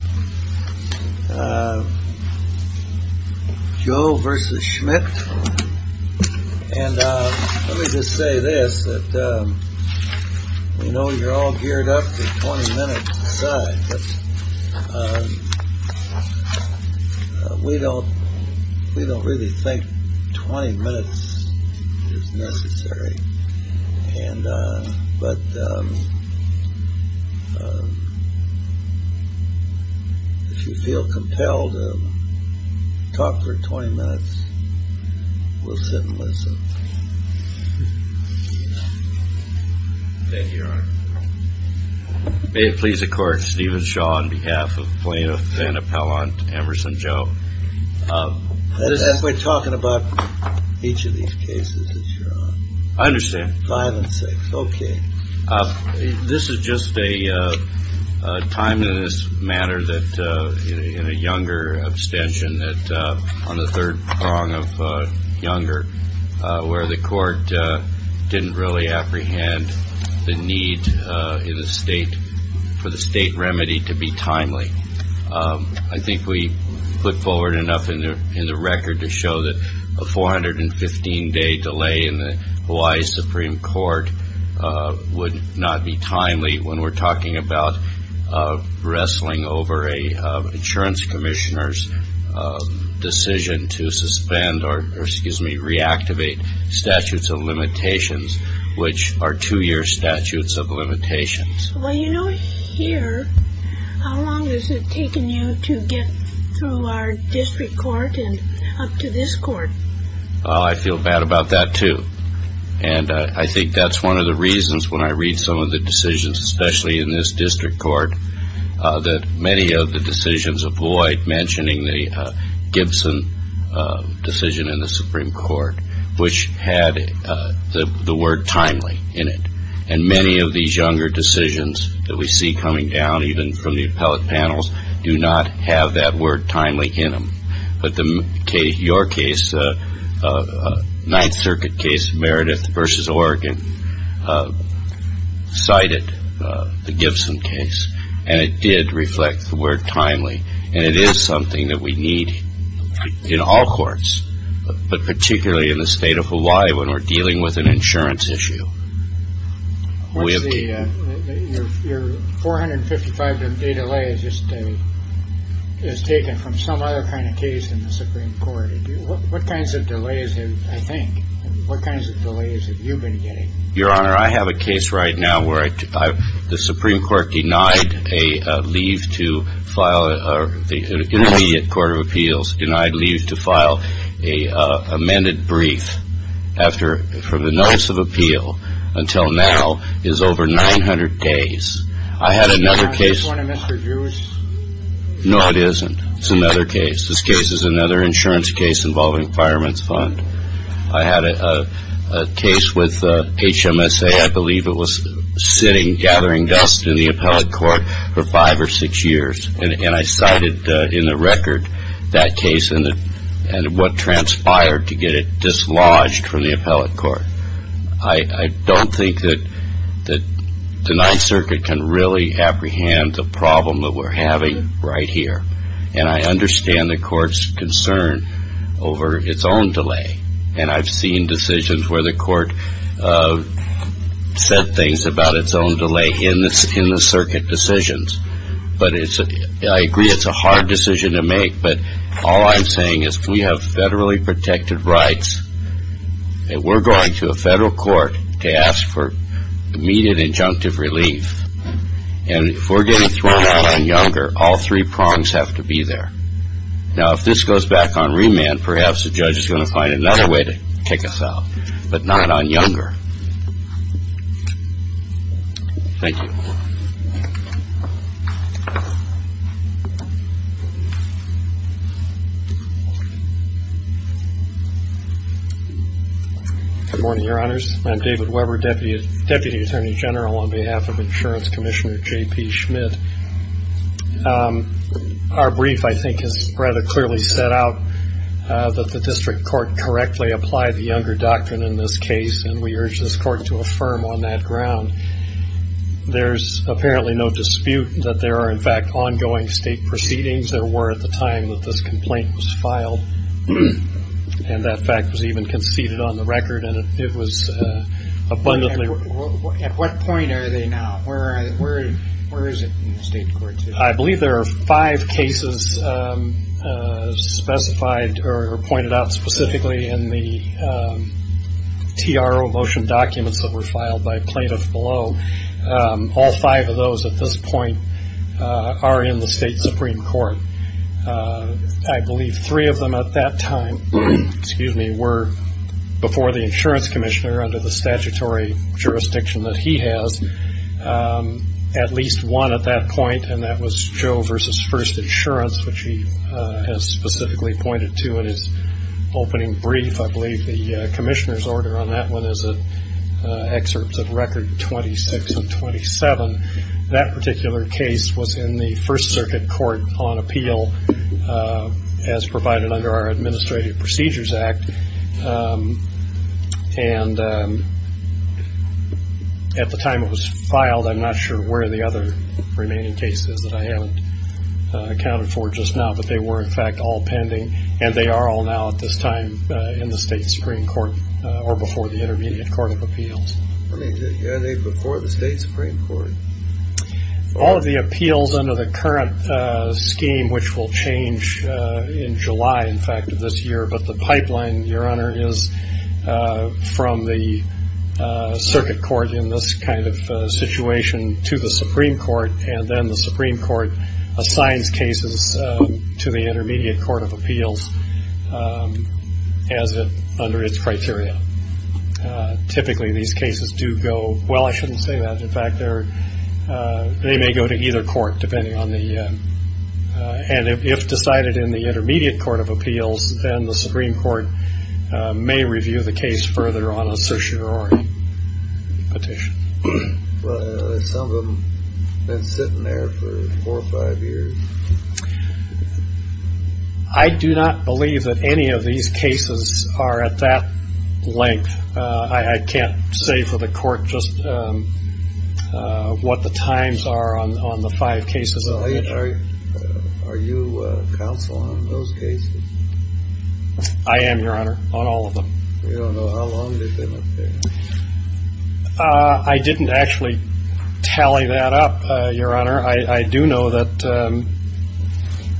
Let me just say this. We know you're all geared up for 20 minutes each side, but we don't feel compelled to talk for 20 minutes. We'll sit and listen. Thank you, Your Honor. May it please the Court, Steven Shaw on behalf of Plaintiff and Appellant Emerson Jou. That's why we're talking about each of these cases, Your Honor. I understand. Violence. Okay. This is just a time in this matter that in a younger abstention that on the third prong of younger where the court didn't really apprehend the need in the state for the state remedy to be timely. I think we put forward enough in the record to show that a 415-day delay in the Hawaii Supreme Court would not be timely when we're talking about wrestling over an insurance commissioner's decision to suspend or reactivate statutes of limitations, which are two-year statutes of limitations. Well, you know here, how long has it taken you to get through our district court and up to this court? I feel bad about that too. And I think that's one of the reasons when I read some of the decisions, especially in this district court, that many of the decisions avoid mentioning the Gibson decision in the Supreme Court, which had the word timely in it. And many of these younger decisions that we see coming down even from the appellate panels do not have that word timely in them. But your case, Ninth Circuit case, Meredith v. Oregon, cited the Gibson case, and it did reflect the word timely. And it is something that we need in all courts, but particularly in the state of Hawaii when we're dealing with an insurance issue. Your 455-day delay is taken from some other kind of case in the Supreme Court. What kinds of delays have you been getting? Your Honor, I have a case right now where the Supreme Court denied an immediate court of appeals, denied leave to file an amended brief from the notice of appeal until now is over 900 days. Is this one of Mr. Drew's? No, it isn't. It's another case. This case is another insurance case involving Fireman's Fund. I had a case with HMSA. I believe it was sitting gathering dust in the appellate court for five or six years. And I cited in the record that case and what transpired to get it dislodged from the appellate court. I don't think that the Ninth Circuit can really apprehend the problem that we're having right here. And I understand the court's concern over its own delay. And I've seen decisions where the court said things about its own delay in the circuit decisions. But I agree it's a hard decision to make. But all I'm saying is we have federally protected rights. And we're going to a federal court to ask for immediate injunctive relief. And if we're getting thrown out on younger, all three prongs have to be there. Now, if this goes back on remand, perhaps the judge is going to find another way to kick us out, but not on younger. Thank you. Good morning, Your Honors. I'm David Weber, Deputy Attorney General on behalf of Insurance Commissioner J.P. Schmidt. Our brief, I think, has rather clearly set out that the district court correctly applied the younger doctrine in this case. And we urge this court to affirm on that ground. There's apparently no dispute that there are, in fact, ongoing state proceedings. There were at the time that this complaint was filed. And that fact was even conceded on the record. And it was abundantly- At what point are they now? Where is it in the state courts? I believe there are five cases specified or pointed out specifically in the TRO motion documents that were filed by plaintiffs below. All five of those at this point are in the state Supreme Court. I believe three of them at that time were before the insurance commissioner under the statutory jurisdiction that he has. At least one at that point, and that was Joe v. First Insurance, which he has specifically pointed to in his opening brief. I believe the commissioner's order on that one is excerpts of Record 26 and 27. That particular case was in the First Circuit Court on Appeal as provided under our Administrative Procedures Act. And at the time it was filed, I'm not sure where the other remaining cases that I haven't accounted for just now, but they were, in fact, all pending. And they are all now at this time in the state Supreme Court or before the Intermediate Court of Appeals. Are they before the state Supreme Court? All of the appeals under the current scheme, which will change in July, in fact, of this year, but the pipeline, Your Honor, is from the circuit court in this kind of situation to the Supreme Court, and then the Supreme Court assigns cases to the Intermediate Court of Appeals as under its criteria. Typically, these cases do go – well, I shouldn't say that. In fact, they may go to either court, depending on the – and if decided in the Intermediate Court of Appeals, then the Supreme Court may review the case further on a certiorari petition. Well, some of them have been sitting there for four or five years. I do not believe that any of these cases are at that length. I can't say for the court just what the times are on the five cases. So are you counsel on those cases? I am, Your Honor, on all of them. We don't know how long they've been up there. I didn't actually tally that up, Your Honor. I do know that –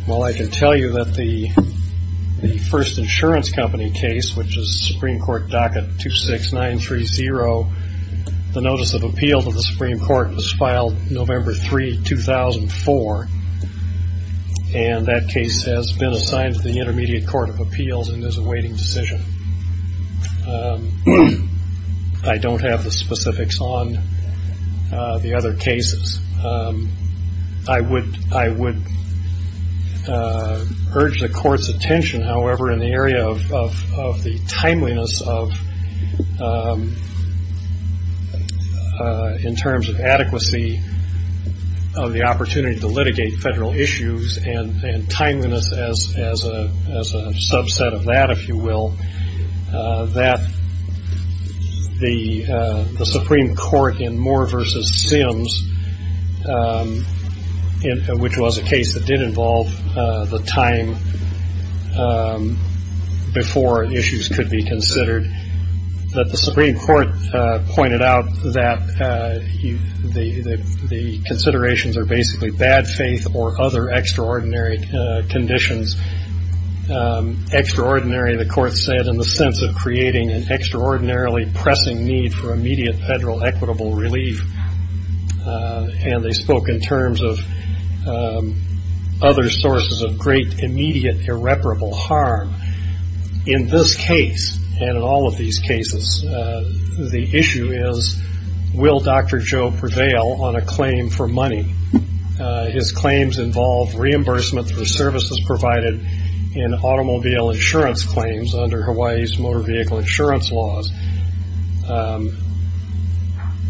well, I can tell you that the first insurance company case, which is Supreme Court docket 26930, the notice of appeal to the Supreme Court was filed November 3, 2004, and that case has been assigned to the Intermediate Court of Appeals and is awaiting decision. I don't have the specifics on the other cases. I would urge the Court's attention, however, in the area of the timeliness of – in terms of adequacy of the opportunity to litigate federal issues and timeliness as a subset of that, if you will, that the Supreme Court in Moore v. Sims, which was a case that did involve the time before issues could be considered, that the Supreme Court pointed out that the considerations are basically bad faith or other extraordinary conditions. Extraordinary, the Court said, in the sense of creating an extraordinarily pressing need for immediate federal equitable relief, and they spoke in terms of other sources of great immediate irreparable harm. In this case, and in all of these cases, the issue is, will Dr. Joe prevail on a claim for money? His claims involve reimbursement for services provided in automobile insurance claims under Hawaii's motor vehicle insurance laws.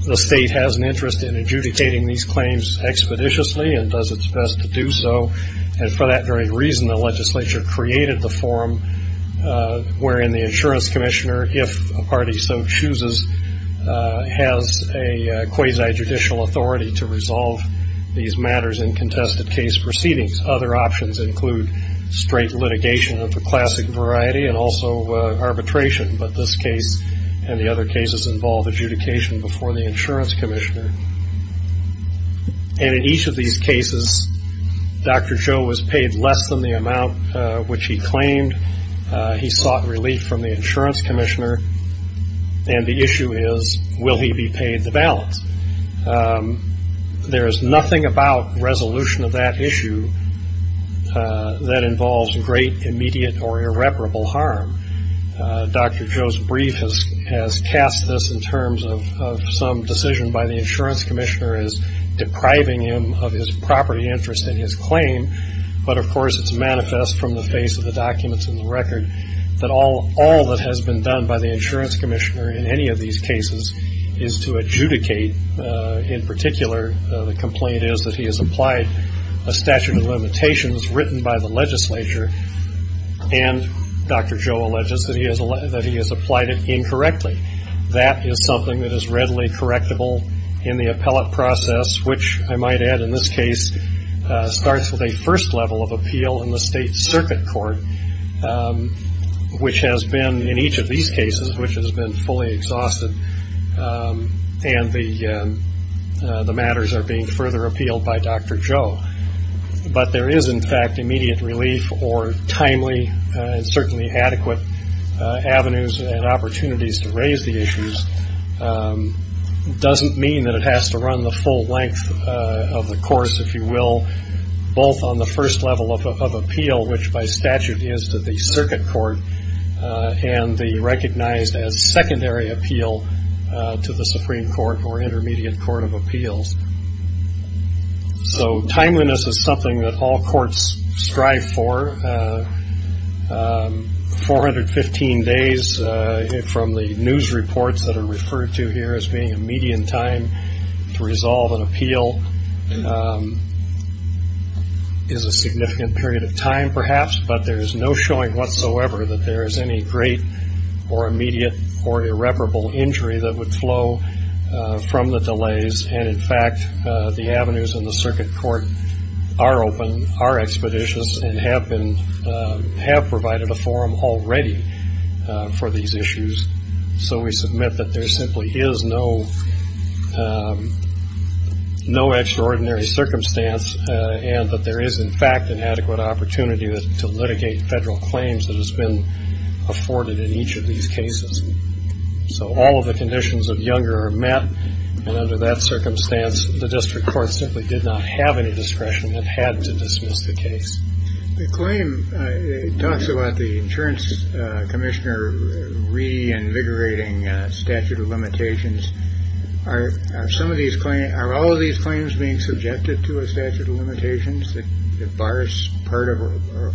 The state has an interest in adjudicating these claims expeditiously and does its best to do so, and for that very reason, the legislature created the forum wherein the insurance commissioner, if a party so chooses, has a quasi-judicial authority to resolve these matters in contested case proceedings. Other options include straight litigation of the classic variety and also arbitration, but this case and the other cases involve adjudication before the insurance commissioner. And in each of these cases, Dr. Joe was paid less than the amount which he claimed. He sought relief from the insurance commissioner, and the issue is, will he be paid the balance? There is nothing about resolution of that issue that involves great immediate or irreparable harm. Dr. Joe's brief has cast this in terms of some decision by the insurance commissioner as depriving him of his property interest in his claim, but of course it's manifest from the face of the documents in the record that all that has been done by the insurance commissioner in any of these cases is to adjudicate. In particular, the complaint is that he has applied a statute of limitations written by the legislature, and Dr. Joe alleges that he has applied it incorrectly. That is something that is readily correctable in the appellate process, which I might add in this case starts with a first level of appeal in the state circuit court, which has been in each of these cases, which has been fully exhausted, and the matters are being further appealed by Dr. Joe. But there is, in fact, immediate relief or timely and certainly adequate avenues and opportunities to raise the issues doesn't mean that it has to run the full length of the course, if you will, both on the first level of appeal, which by statute is to the circuit court, and the recognized as secondary appeal to the Supreme Court or intermediate court of appeals. So timeliness is something that all courts strive for. 415 days from the news reports that are referred to here as being a median time to resolve an appeal is a significant period of time, perhaps, but there is no showing whatsoever that there is any great or immediate or irreparable injury that would flow from the delays, and, in fact, the avenues in the circuit court are open, are expeditious, and have provided a forum already for these issues. So we submit that there simply is no extraordinary circumstance and that there is, in fact, an adequate opportunity to litigate federal claims that has been afforded in each of these cases. So all of the conditions of Younger are met, and under that circumstance, the district court simply did not have any discretion and had to dismiss the case. The claim talks about the insurance commissioner reinvigorating statute of limitations. Are some of these claims, are all of these claims being subjected to a statute of limitations, that bars part of them or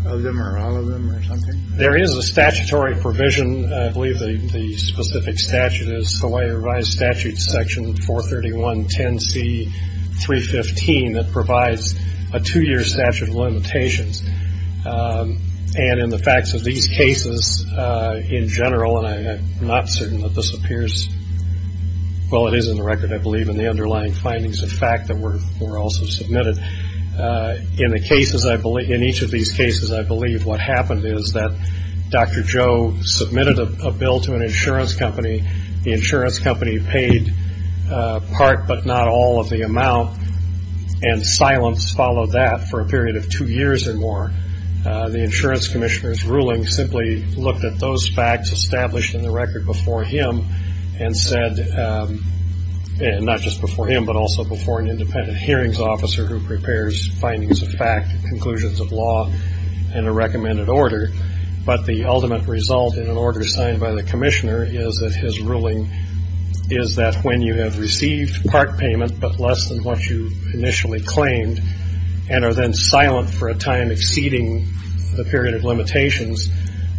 all of them or something? There is a statutory provision, I believe the specific statute is Hawaii Revised Statute Section 431.10c.315, that provides a two-year statute of limitations, and in the facts of these cases in general, and I'm not certain that this appears, well, it is in the record, I believe, in the underlying findings of fact that were also submitted. In each of these cases, I believe what happened is that Dr. Joe submitted a bill to an insurance company. The insurance company paid part but not all of the amount, and silence followed that for a period of two years or more. The insurance commissioner's ruling simply looked at those facts established in the record before him and said, and not just before him but also before an independent hearings officer who prepares findings of fact, conclusions of law, and a recommended order. But the ultimate result in an order signed by the commissioner is that his ruling is that when you have received part payment but less than what you initially claimed and are then silent for a time exceeding the period of limitations,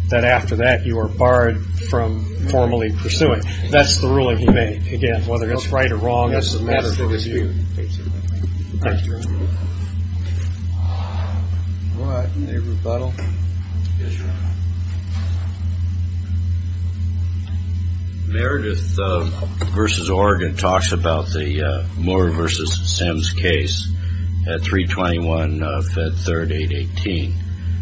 that after that you are barred from formally pursuing. That's the ruling he made. Again, whether that's right or wrong, that's a matter for review. All right. Any rebuttal? Meredith v. Oregon talks about the Moore v. Sims case at 321 Fed 3rd 818,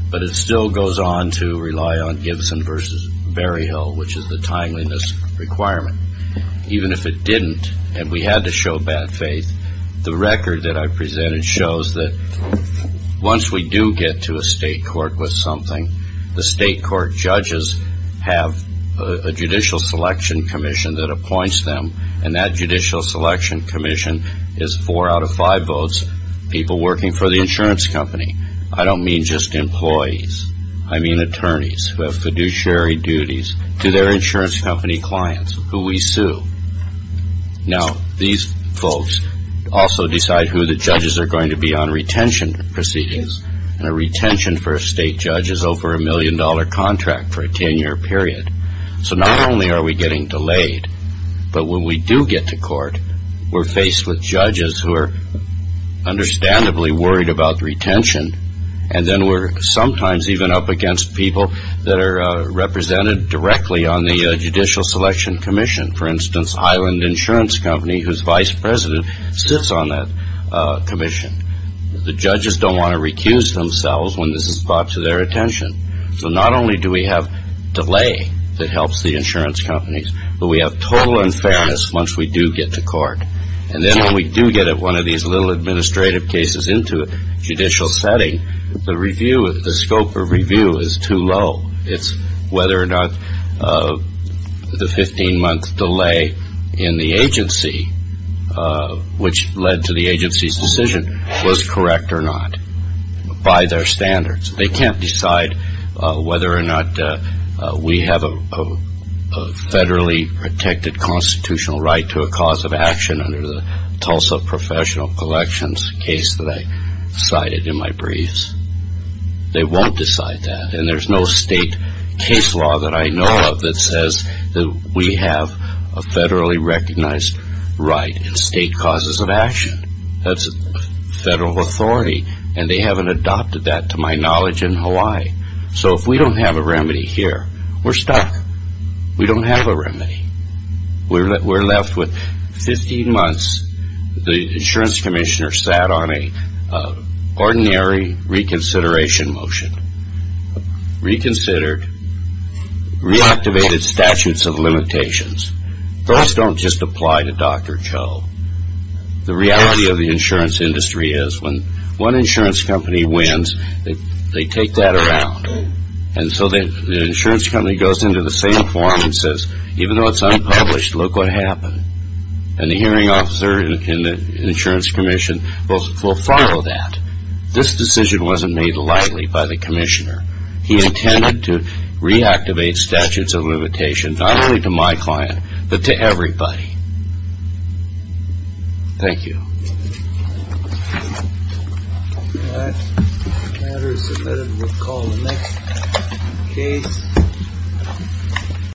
but it still goes on to rely on Gibson v. Berryhill, which is the timeliness requirement. Even if it didn't and we had to show bad faith, the record that I presented shows that once we do get to a state court with something, the state court judges have a judicial selection commission that appoints them, and that judicial selection commission is four out of five votes people working for the insurance company. I don't mean just employees. I mean attorneys who have fiduciary duties to their insurance company clients who we sue. Now, these folks also decide who the judges are going to be on retention proceedings, and a retention for a state judge is over a million-dollar contract for a 10-year period. So not only are we getting delayed, but when we do get to court, we're faced with judges who are understandably worried about retention, and then we're sometimes even up against people that are represented directly on the judicial selection commission. For instance, Highland Insurance Company, whose vice president sits on that commission. The judges don't want to recuse themselves when this is brought to their attention. So not only do we have delay that helps the insurance companies, but we have total unfairness once we do get to court. And then when we do get one of these little administrative cases into a judicial setting, the review, the scope of review is too low. It's whether or not the 15-month delay in the agency, which led to the agency's decision, was correct or not by their standards. They can't decide whether or not we have a federally protected constitutional right to a cause of action under the Tulsa Professional Collections case that I cited in my briefs. They won't decide that. And there's no state case law that I know of that says that we have a federally recognized right in state causes of action. That's federal authority, and they haven't adopted that, to my knowledge, in Hawaii. So if we don't have a remedy here, we're stuck. We don't have a remedy. We're left with 15 months. The insurance commissioner sat on an ordinary reconsideration motion, reconsidered, reactivated statutes of limitations. Those don't just apply to Dr. Joe. The reality of the insurance industry is when one insurance company wins, they take that around. And so the insurance company goes into the same forum and says, even though it's unpublished, look what happened. And the hearing officer in the insurance commission will follow that. This decision wasn't made lightly by the commissioner. He intended to reactivate statutes of limitations, not only to my client, but to everybody. Thank you. That matter is submitted to recall in the next case.